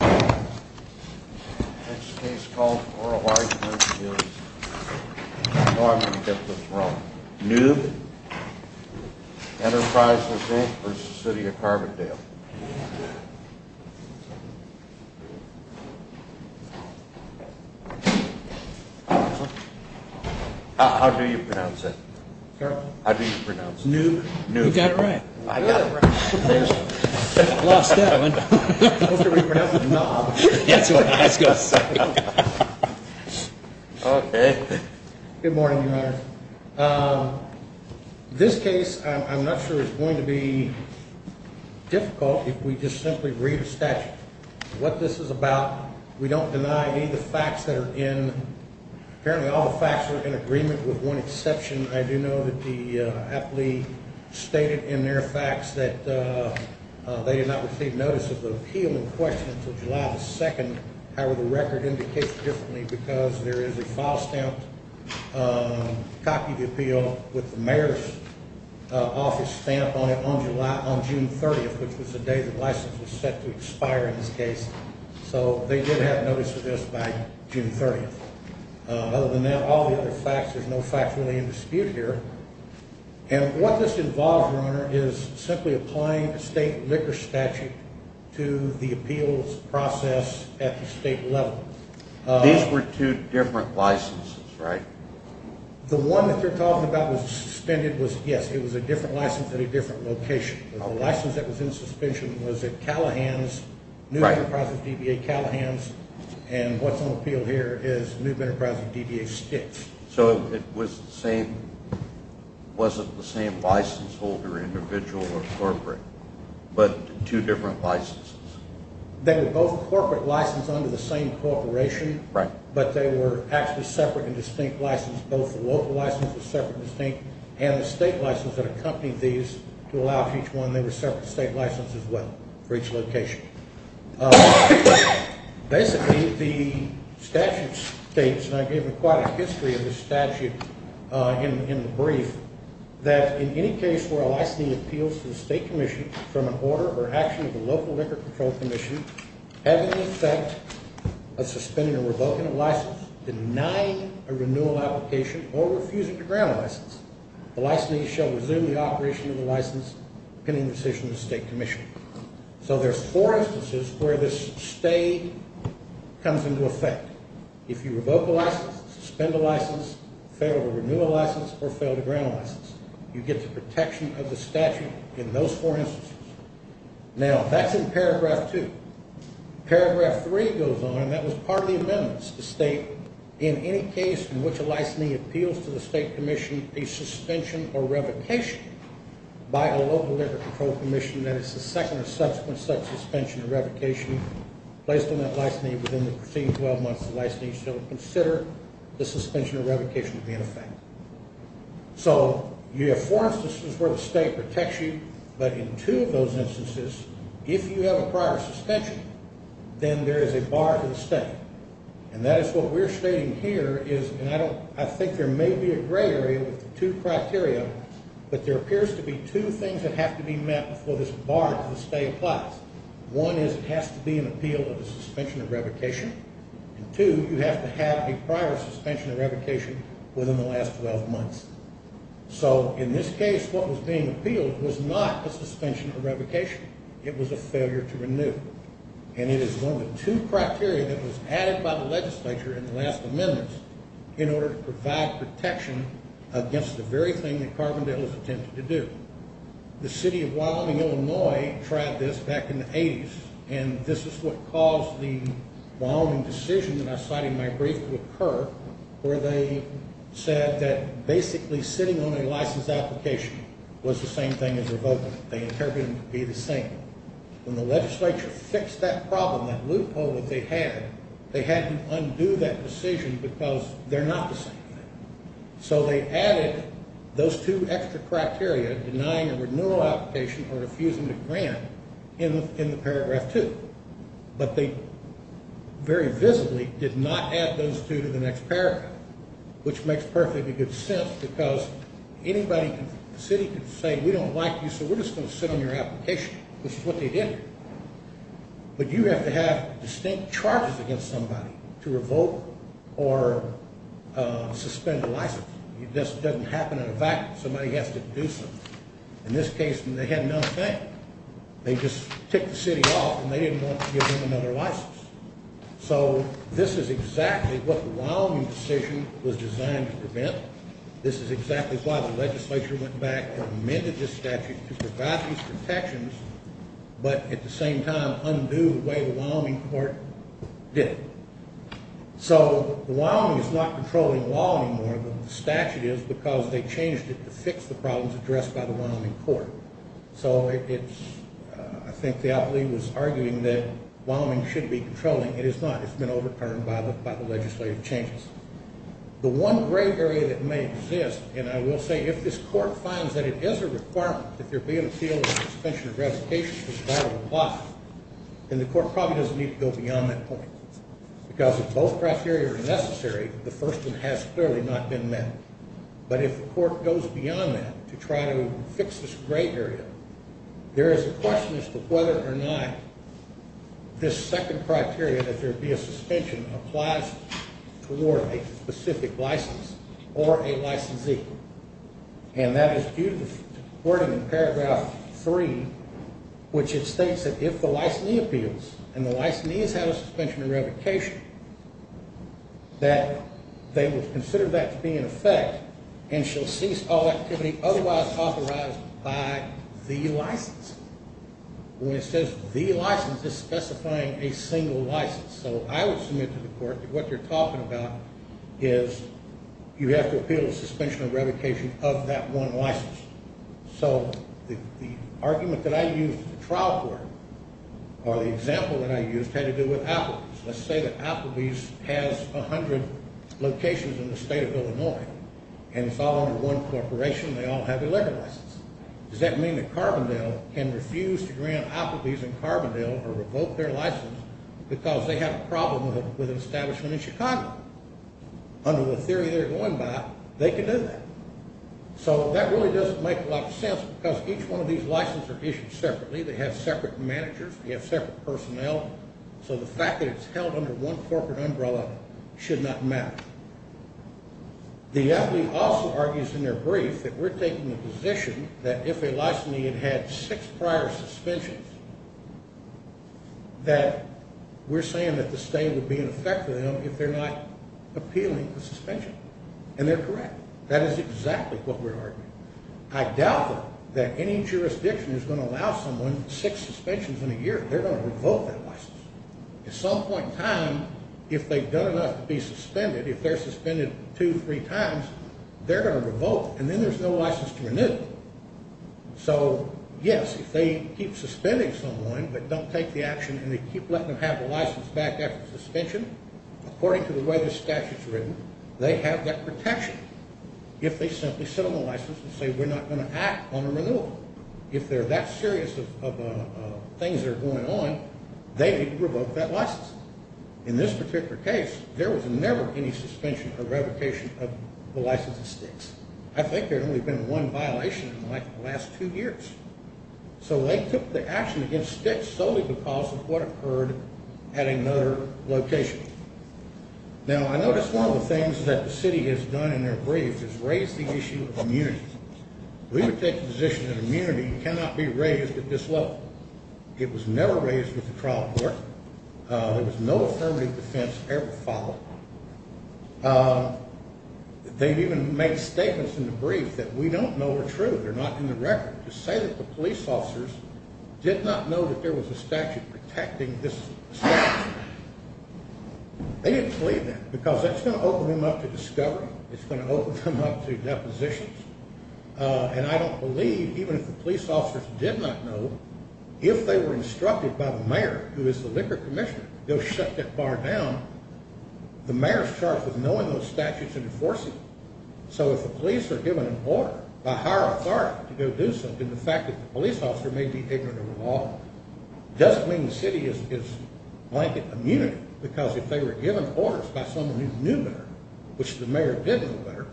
Next case called for oral arguments is, I know I'm going to get this wrong, Noob Enterprises, Inc. versus the City of Carbondale. How do you pronounce it? How do you pronounce it? Noob. You got it right. I got it right. Lost that one. How can we pronounce it? Noob. That's all right. Let's go. Okay. Good morning, Your Honor. This case, I'm not sure it's going to be difficult if we just simply read the statute. What this is about, we don't deny any of the facts that are in. Apparently all the facts are in agreement with one exception. I do know that the appellee stated in their facts that they did not receive notice of the appeal in question until July 2nd. However, the record indicates differently because there is a file stamped, copy of the appeal with the mayor's office stamp on it on June 30th, which was the day the license was set to expire in this case. So they did have notice of this by June 30th. Other than that, all the other facts, there's no facts really in dispute here. And what this involves, Your Honor, is simply applying the state liquor statute to the appeals process at the state level. These were two different licenses, right? The one that you're talking about was suspended was, yes, it was a different license at a different location. The license that was in suspension was at Callahan's, New Enterprise of DBA, Callahan's. And what's on appeal here is New Enterprise of DBA, Stitt's. So it was the same, was it the same license holder, individual or corporate, but two different licenses? They were both corporate license under the same corporation. Right. But they were actually separate and distinct license. Both the local license was separate and distinct, and the state license that accompanied these to allow for each one, they were separate state licenses as well for each location. Basically, the statute states, and I gave them quite a history of this statute in the brief, that in any case where a licensee appeals to the state commission from an order or action of the local liquor control commission, having the effect of suspending or revoking a license, denying a renewal application, or refusing to grant a license, the licensee shall resume the operation of the license, pending decision of the state commission. So there's four instances where this stay comes into effect. If you revoke a license, suspend a license, fail to renew a license, or fail to grant a license, you get the protection of the statute in those four instances. Now, that's in paragraph two. Paragraph three goes on, and that was part of the amendments to state in any case in which a licensee appeals to the state commission, a suspension or revocation by a local liquor control commission, that it's the second or subsequent such suspension or revocation placed on that licensee within the preceding 12 months of the licensee shall consider the suspension or revocation to be in effect. So you have four instances where the state protects you, but in two of those instances, if you have a prior suspension, then there is a bar to the state. And that is what we're stating here is, and I think there may be a gray area with the two criteria, but there appears to be two things that have to be met before this bar to the state applies. One is it has to be an appeal of a suspension or revocation, and two, you have to have a prior suspension or revocation within the last 12 months. So in this case, what was being appealed was not a suspension or revocation. It was a failure to renew. And it is one of the two criteria that was added by the legislature in the last amendments in order to provide protection against the very thing that Carbondale has attempted to do. The city of Wyoming, Illinois, tried this back in the 80s, and this is what caused the Wyoming decision that I cited in my brief to occur, where they said that basically sitting on a license application was the same thing as revoking it. They interpreted it to be the same. When the legislature fixed that problem, that loophole that they had, they had to undo that decision because they're not the same thing. So they added those two extra criteria, denying a renewal application or refusing to grant in the paragraph two. But they very visibly did not add those two to the next paragraph, which makes perfectly good sense because anybody in the city could say, we don't like you, so we're just going to sit on your application. This is what they did. But you have to have distinct charges against somebody to revoke or suspend a license. This doesn't happen in a vacuum. Somebody has to do something. In this case, they had nothing. They just took the city off, and they didn't want to give them another license. So this is exactly what the Wyoming decision was designed to prevent. This is exactly why the legislature went back and amended this statute to provide these protections but at the same time undo the way the Wyoming court did it. So the Wyoming is not controlling the law anymore, but the statute is because they changed it to fix the problems addressed by the Wyoming court. So it's, I think Theopoly was arguing that Wyoming should be controlling. It is not. It's been overturned by the legislative changes. The one gray area that may exist, and I will say, if this court finds that it is a requirement, if you're being appealed for suspension of revocation, then the court probably doesn't need to go beyond that point because if both criteria are necessary, the first one has clearly not been met. But if the court goes beyond that to try to fix this gray area, there is a question as to whether or not this second criteria, that there be a suspension, applies toward a specific license or a licensee. And that is due to the wording in paragraph 3, which it states that if the licensee appeals and the licensee has had a suspension of revocation, that they will consider that to be in effect and shall cease all activity otherwise authorized by the license. When it says the license, it's specifying a single license. So I would submit to the court that what they're talking about is you have to appeal a suspension of revocation of that one license. So the argument that I used in the trial court, or the example that I used, had to do with Applebee's. Let's say that Applebee's has 100 locations in the state of Illinois, and it's all under one corporation and they all have a liquor license. Does that mean that Carbondale can refuse to grant Applebee's and Carbondale or revoke their license because they have a problem with an establishment in Chicago? Under the theory they're going by, they can do that. So that really doesn't make a lot of sense because each one of these licenses are issued separately. They have separate managers. They have separate personnel. So the fact that it's held under one corporate umbrella should not matter. The FD also argues in their brief that we're taking the position that if a licensee had had six prior suspensions, that we're saying that the state would be in effect with them if they're not appealing a suspension. And they're correct. That is exactly what we're arguing. I doubt that any jurisdiction is going to allow someone six suspensions in a year. They're going to revoke that license. At some point in time, if they've done enough to be suspended, if they're suspended two, three times, they're going to revoke it, and then there's no license to renew it. So, yes, if they keep suspending someone but don't take the action and they keep letting them have the license back after the suspension, according to the way the statute's written, they have that protection. If they simply sit on the license and say, we're not going to act on a renewal. If there are that series of things that are going on, they can revoke that license. In this particular case, there was never any suspension or revocation of the license of Styx. I think there had only been one violation in the last two years. So they took the action against Styx solely because of what occurred at another location. Now, I noticed one of the things that the city has done in their brief is raise the issue of immunity. We would take the position that immunity cannot be raised at this level. It was never raised with the trial court. There was no affirmative defense ever filed. They've even made statements in the brief that we don't know are true. They're not in the record. To say that the police officers did not know that there was a statute protecting this statute, they didn't believe that because that's going to open them up to discovery. It's going to open them up to depositions. And I don't believe, even if the police officers did not know, if they were instructed by the mayor, who is the liquor commissioner, they'll shut that bar down. The mayor's charged with knowing those statutes and enforcing them. So if the police are given an order by higher authority to go do something, the fact that the police officer may be ignorant of the law doesn't mean the city is blanket immunity because if they were given orders by someone who knew better, which the mayor did know better,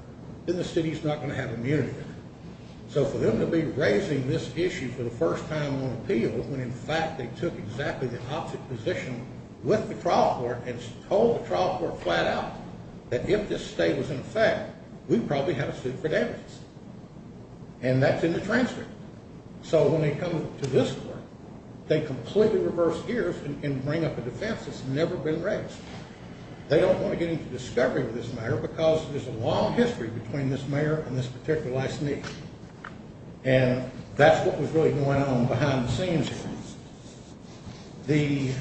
then the city's not going to have immunity. So for them to be raising this issue for the first time on appeal when, in fact, they took exactly the opposite position with the trial court and told the trial court flat out that if this state was in effect, we'd probably have a suit for damages. And that's in the transcript. So when they come to this court, they completely reverse gears and bring up a defense that's never been raised. They don't want to get into discovery of this matter because there's a long history between this mayor and this particular last name. And that's what was really going on behind the scenes here. The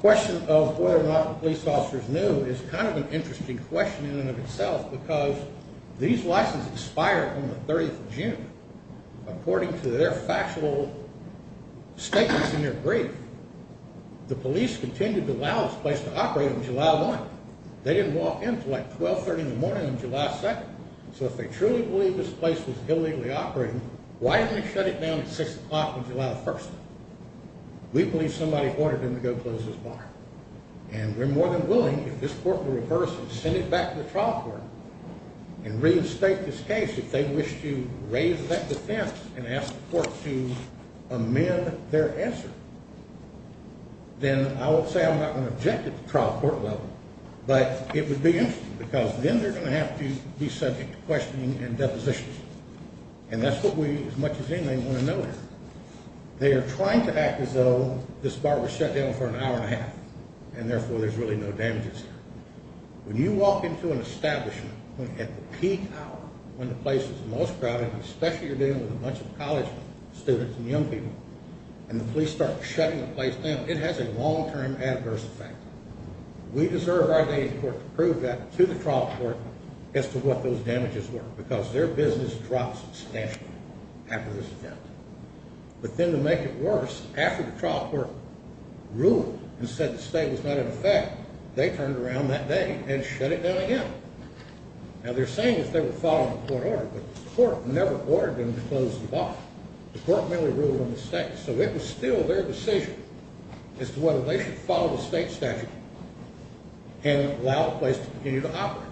question of whether or not the police officers knew is kind of an interesting question in and of itself because these licenses expired on the 30th of June. According to their factual statements in their brief, the police continued to allow this place to operate on July 1st. They didn't walk in until, like, 1230 in the morning on July 2nd. So if they truly believed this place was illegally operating, why didn't they shut it down at 6 o'clock on July 1st? We believe somebody ordered them to go close this bar. And we're more than willing, if this court were to reverse and send it back to the trial court and reinstate this case, if they wished to raise that defense and ask the court to amend their answer, then I would say I'm not going to object at the trial court level, but it would be interesting because then they're going to have to be subject to questioning and depositions. And that's what we, as much as anything, want to know here. They are trying to act as though this bar was shut down for an hour and a half and therefore there's really no damages here. When you walk into an establishment at the peak hour, when the place is the most crowded, especially if you're dealing with a bunch of college students and young people, and the police start shutting the place down, it has a long-term adverse effect. We deserve our day's court to prove that to the trial court as to what those damages were because their business drops substantially after this event. But then to make it worse, after the trial court ruled and said the state was not in effect, they turned around that day and shut it down again. Now they're saying that they were following the court order, but the court never ordered them to close the bar. The court merely ruled on the state. So it was still their decision as to whether they should follow the state statute and allow the place to continue to operate.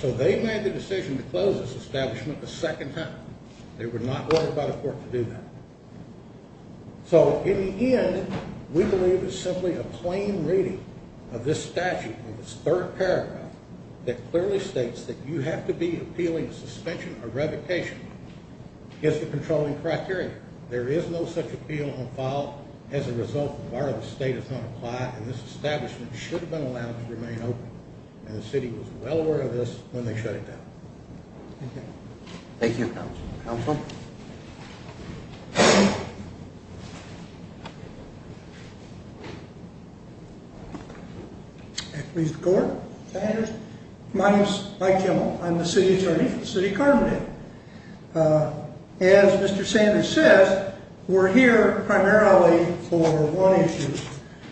So they made the decision to close this establishment a second time. They were not ordered by the court to do that. So in the end, we believe it's simply a plain reading of this statute in this third paragraph that clearly states that you have to be appealing suspension or revocation against the controlling criteria. There is no such appeal on file as a result of whether the state is going to apply and this establishment should have been allowed to remain open. And the city was well aware of this when they shut it down. Thank you. Thank you, Counselor. Counselor? Mr. Gordon. My name is Mike Kimmel. I'm the City Attorney for the City of Carbondale. As Mr. Sanders says, we're here primarily for one issue,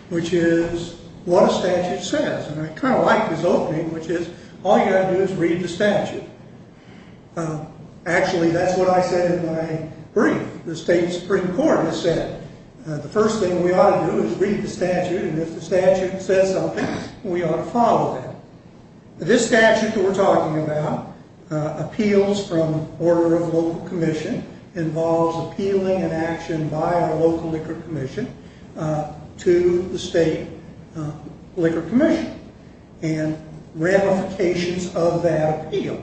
which is what a statute says. And I kind of like this opening, which is all you've got to do is read the statute. Actually, that's what I said in my brief. The State Supreme Court has said the first thing we ought to do is read the statute, and if the statute says something, we ought to follow that. This statute that we're talking about appeals from order of local commission, involves appealing an action by a local liquor commission to the state liquor commission and ramifications of that appeal.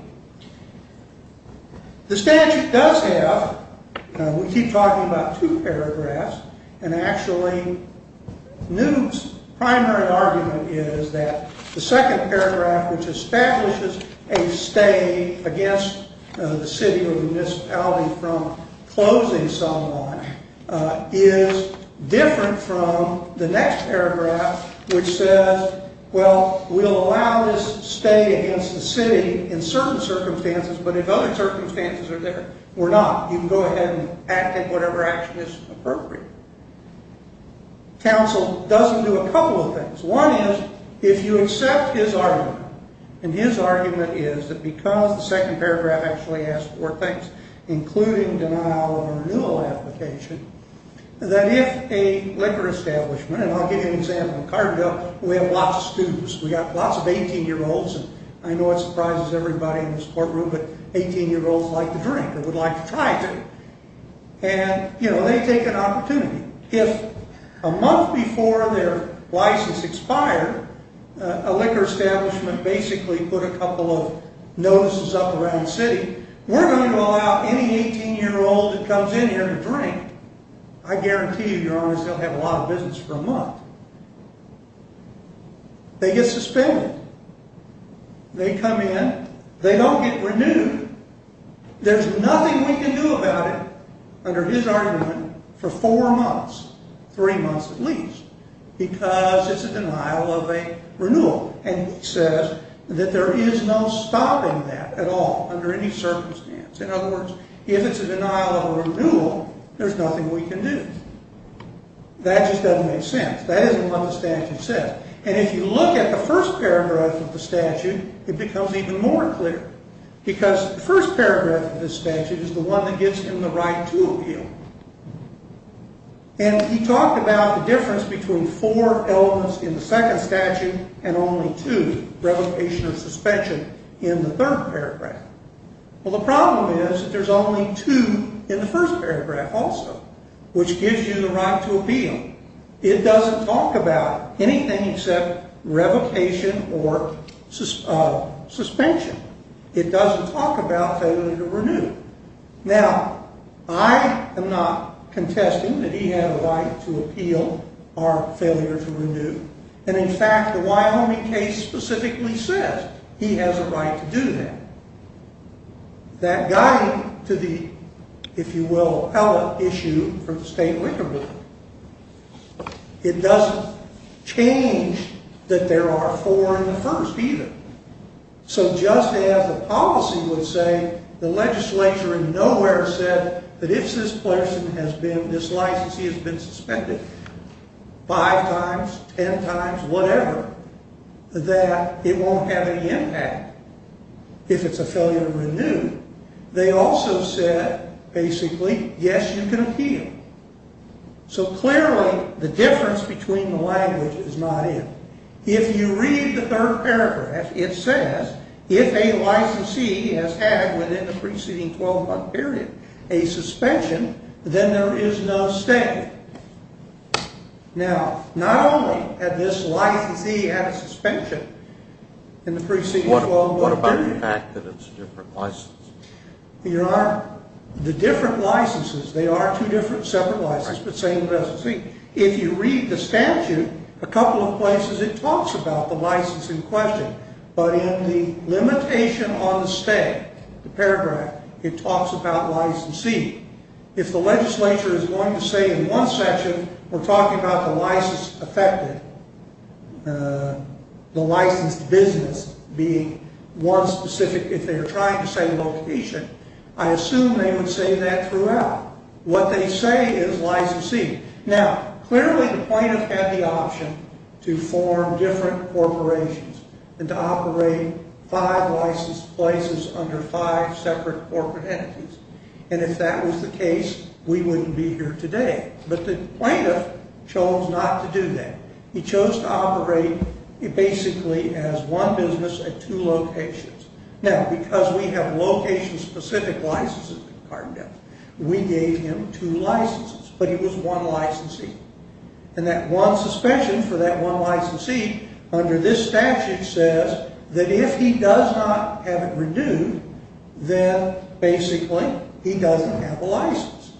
The statute does have, we keep talking about two paragraphs, and actually, Newt's primary argument is that the second paragraph, which establishes a stay against the city or municipality from closing somewhat, is different from the next paragraph, which says, well, we'll allow this stay against the city in certain circumstances, but if other circumstances are there, we're not. You can go ahead and act at whatever action is appropriate. Counsel doesn't do a couple of things. One is, if you accept his argument, and his argument is that because the second paragraph actually has four things, including denial of renewal application, that if a liquor establishment, and I'll give you an example, we have lots of students, we've got lots of 18-year-olds, and I know it surprises everybody in this courtroom, but 18-year-olds like to drink, or would like to try to, and, you know, they take an opportunity. If a month before their license expired, a liquor establishment basically put a couple of notices up around the city, we're going to allow any 18-year-old that comes in here to drink. I guarantee you, your honors, they'll have a lot of business for a month. They get suspended. They come in, they don't get renewed. There's nothing we can do about it, under his argument, for four months, three months at least, because it's a denial of a renewal, and he says that there is no stopping that at all, under any circumstance. In other words, if it's a denial of a renewal, there's nothing we can do. That just doesn't make sense. That isn't what the statute says. And if you look at the first paragraph of the statute, it becomes even more clear, because the first paragraph of the statute is the one that gives him the right to appeal, and he talked about the difference between four elements in the second statute and only two, revocation or suspension, in the third paragraph. Well, the problem is that there's only two in the first paragraph also, which gives you the right to appeal. It doesn't talk about anything except revocation or suspension. It doesn't talk about failure to renew. Now, I am not contesting that he had a right to appeal or failure to renew, and, in fact, the Wyoming case specifically says he has a right to do that. That guiding to the, if you will, appellate issue for the state liquor bill, it doesn't change that there are four in the first either. So just as the policy would say, the legislature in nowhere said that if this person has been, this licensee has been suspended five times, ten times, whatever, that it won't have any impact if it's a failure to renew. They also said, basically, yes, you can appeal. So clearly the difference between the language is not in. If you read the third paragraph, it says, if a licensee has had within the preceding 12-month period a suspension, then there is no statute. Now, not only had this licensee had a suspension in the preceding 12-month period. What about the fact that it's a different license? There are the different licenses. They are two different separate licenses, but same licensee. If you read the statute, a couple of places it talks about the license in question, but in the limitation on the stay, the paragraph, it talks about licensee. If the legislature is going to say in one section, we're talking about the license affected, the licensed business being one specific, if they're trying to say location, I assume they would say that throughout. What they say is licensee. Now, clearly the plaintiff had the option to form different corporations and to operate five licensed places under five separate corporate entities, and if that was the case, we wouldn't be here today, but the plaintiff chose not to do that. He chose to operate basically as one business at two locations. Now, because we have location-specific licenses in Cardinal, we gave him two licenses, but he was one licensee, and that one suspension for that one licensee under this statute says that if he does not have it renewed, then basically he doesn't have a license.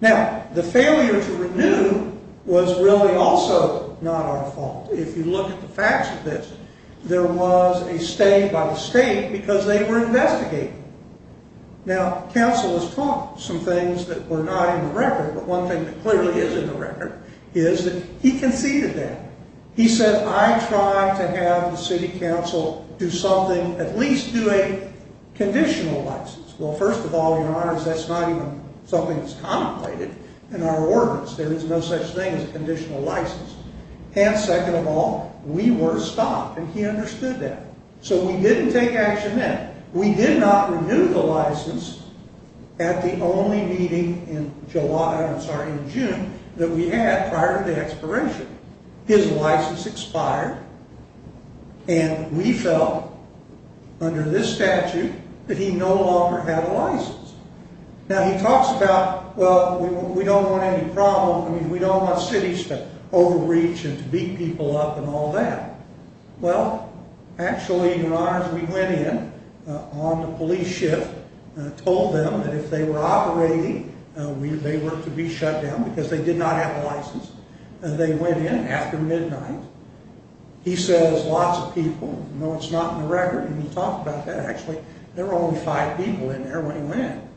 Now, the failure to renew was really also not our fault. If you look at the facts of this, there was a stay by the state because they were investigating. Now, counsel has taught some things that were not in the record, but one thing that clearly is in the record is that he conceded that. He said, I tried to have the city council do something, at least do a conditional license. Well, first of all, your honors, that's not even something that's contemplated in our ordinance. There is no such thing as a conditional license. And second of all, we were stopped, and he understood that. So we didn't take action then. We did not renew the license at the only meeting in July, I'm sorry, in June, that we had prior to the expiration. His license expired, and we felt under this statute that he no longer had a license. Now, he talks about, well, we don't want any problems. I mean, we don't want cities to overreach and to beat people up and all that. Well, actually, your honors, we went in on the police shift, told them that if they were operating, they were to be shut down because they did not have a license. They went in after midnight. He says lots of people. No, it's not in the record. He didn't talk about that, actually. There were only five people in there when he went in.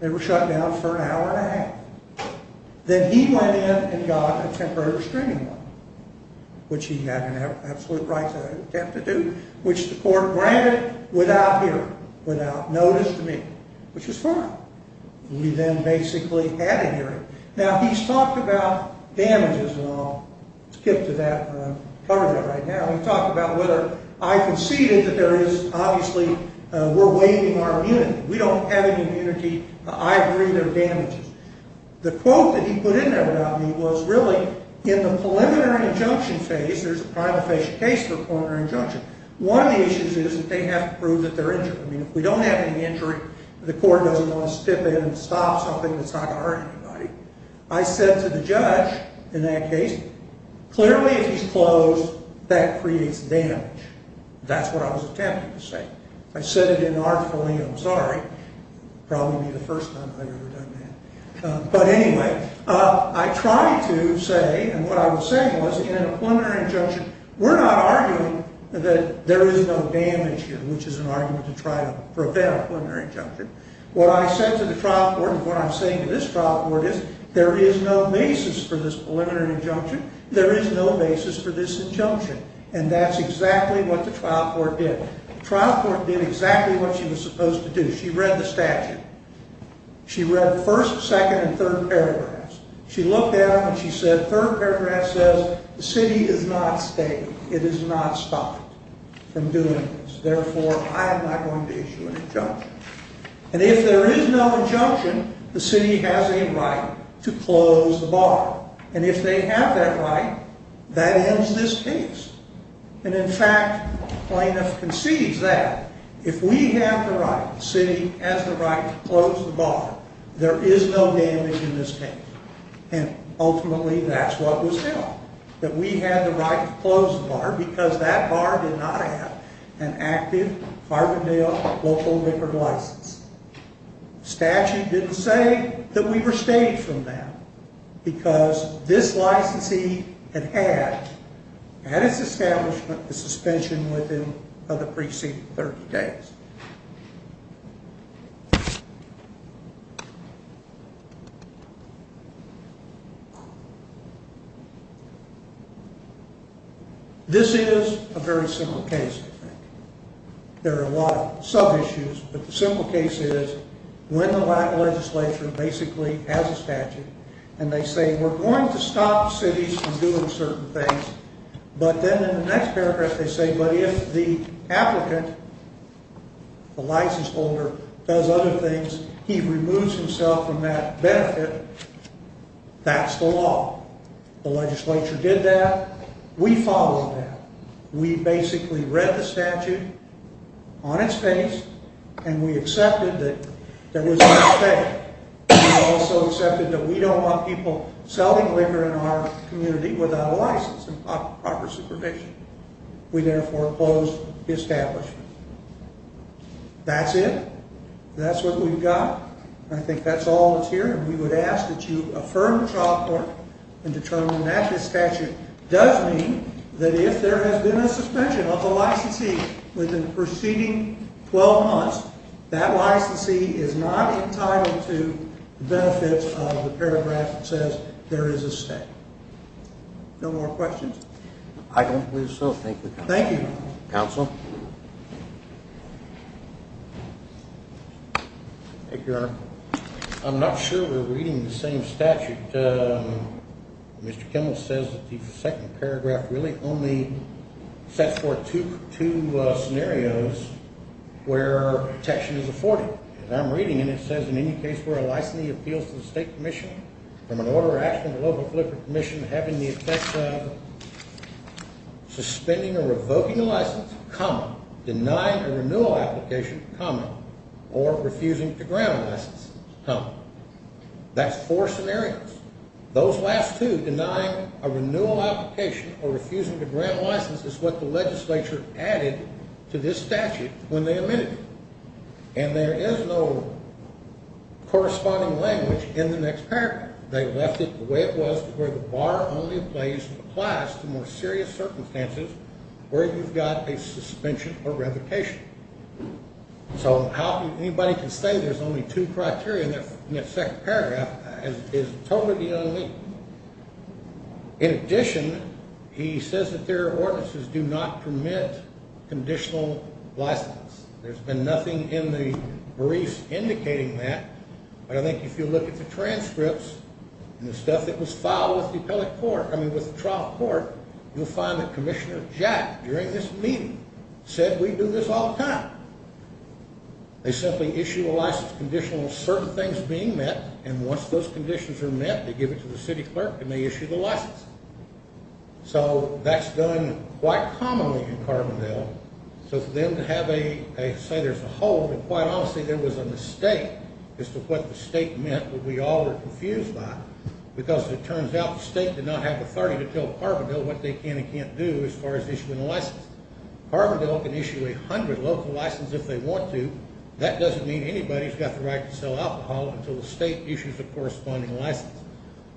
They were shut down for an hour and a half. Then he went in and got a temporary restraining order, which he had an absolute right to attempt to do, which the court granted without hearing, without notice to me, which was fine. We then basically had a hearing. Now, he's talked about damages, and I'll skip to that and cover that right now. He talked about whether I conceded that there is obviously we're waiving our immunity. We don't have any immunity. I agree there are damages. The quote that he put in there about me was really in the preliminary injunction phase, there's a primal phase case for a preliminary injunction. One of the issues is that they have to prove that they're injured. I mean, if we don't have any injury, the court doesn't want to step in and stop something that's not going to hurt anybody. I said to the judge in that case, clearly if he's closed, that creates damage. That's what I was attempting to say. I said it in an article, and I'm sorry. It will probably be the first time I've ever done that. But anyway, I tried to say, and what I was saying was, in a preliminary injunction, we're not arguing that there is no damage here, which is an argument to try to prevent a preliminary injunction. What I said to the trial court and what I'm saying to this trial court is there is no basis for this preliminary injunction. There is no basis for this injunction, and that's exactly what the trial court did. The trial court did exactly what she was supposed to do. She read the statute. She read the first, second, and third paragraphs. She looked at them, and she said, third paragraph says, the city is not staying. It is not stopping from doing this. Therefore, I am not going to issue an injunction. And if there is no injunction, the city has a right to close the bar. And if they have that right, that ends this case. And, in fact, plaintiff concedes that. If we have the right, the city has the right to close the bar, there is no damage in this case. And, ultimately, that's what was done, that we had the right to close the bar because that bar did not have an active Carbondale local liquor license. The statute didn't say that we were staying from that because this licensee had had, at its establishment, a suspension within the preceding 30 days. This is a very simple case, I think. There are a lot of sub-issues, but the simple case is when the legislature basically has a statute and they say we're going to stop cities from doing certain things, but then in the next paragraph they say, but if the applicant, the license holder, does other things, he removes himself from that benefit, that's the law. The legislature did that. We followed that. We basically read the statute on its face, and we accepted that there was no stay. We also accepted that we don't want people selling liquor in our community without a license and proper supervision. We therefore closed the establishment. That's it. That's what we've got. I think that's all that's here, and we would ask that you affirm the trial court and determine that this statute does mean that if there has been a suspension of the licensee within the preceding 12 months, that licensee is not entitled to the benefits of the paragraph that says there is a stay. No more questions? I don't believe so. Thank you. Thank you. Counsel? Thank you, Your Honor. I'm not sure we're reading the same statute. Mr. Kimmel says that the second paragraph really only sets forth two scenarios where protection is afforded. As I'm reading it, it says, in any case where a licensee appeals to the State Commission from an order of action below the flip of the Commission having the effects of suspending or revoking a license, common, denying a renewal application, common, or refusing to grant a license, common. That's four scenarios. Those last two, denying a renewal application or refusing to grant a license, is what the legislature added to this statute when they amended it. And there is no corresponding language in the next paragraph. They left it the way it was, where the bar only applies to more serious circumstances where you've got a suspension or revocation. So how anybody can say there's only two criteria in that second paragraph is totally unlean. In addition, he says that their ordinances do not permit conditional license. There's been nothing in the briefs indicating that. But I think if you look at the transcripts and the stuff that was filed with the trial court, you'll find that Commissioner Jack, during this meeting, said we do this all the time. They simply issue a license conditional on certain things being met, and once those conditions are met, they give it to the city clerk, and they issue the license. So that's done quite commonly in Carbondale. So for them to say there's a hold, and quite honestly, there was a mistake as to what the state meant that we all were confused by, because it turns out the state did not have authority to tell Carbondale what they can and can't do as far as issuing a license. Carbondale can issue 100 local licenses if they want to. That doesn't mean anybody's got the right to sell alcohol until the state issues a corresponding license.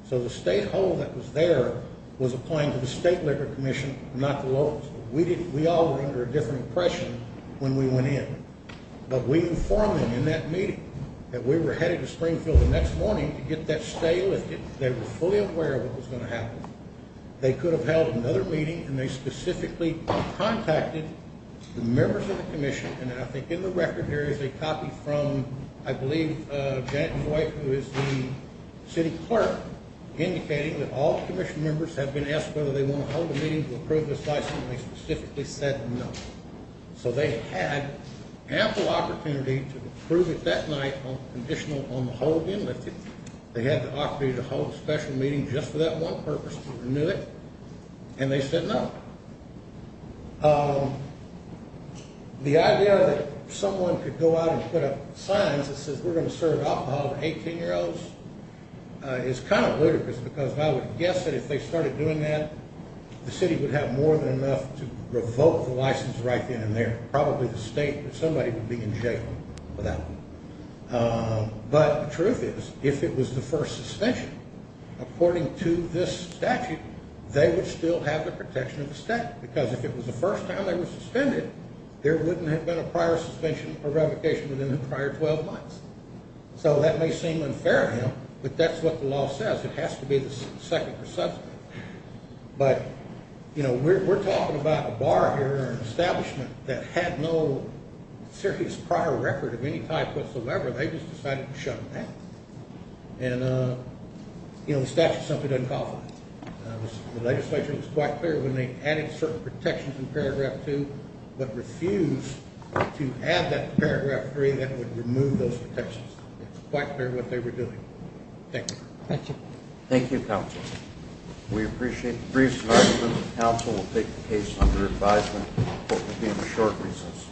So the state hold that was there was applying to the State Liquor Commission, not the locals. We all were under a different impression when we went in. But we informed them in that meeting that we were headed to Springfield the next morning to get that stay lifted. They were fully aware of what was going to happen. They could have held another meeting, and they specifically contacted the members of the commission, and I think in the record here is a copy from, I believe, Janet Voigt, who is the city clerk, indicating that all commission members have been asked whether they want to hold a meeting to approve this license, and they specifically said no. So they had ample opportunity to approve it that night, conditional on the hold being lifted. They had the opportunity to hold a special meeting just for that one purpose, to renew it, and they said no. Now, the idea that someone could go out and put up signs that says we're going to serve alcohol to 18-year-olds is kind of ludicrous, because I would guess that if they started doing that, the city would have more than enough to revoke the license right then and there. Probably the state, but somebody would be in jail for that one. But the truth is, if it was the first suspension, according to this statute, they would still have the protection of the state, because if it was the first time they were suspended, there wouldn't have been a prior suspension or revocation within the prior 12 months. So that may seem unfair to them, but that's what the law says. It has to be the second or subsequent. But, you know, we're talking about a bar here, an establishment that had no serious prior record of any type whatsoever. They just decided to shut them down. And, you know, the statute is something to uncover. The legislature was quite clear when they added certain protections in Paragraph 2 but refused to add that to Paragraph 3. That would remove those protections. It's quite clear what they were doing. Thank you. Thank you. Thank you, counsel. We appreciate the briefs and arguments. The counsel will take the case under advisement. The court will be in the short recess.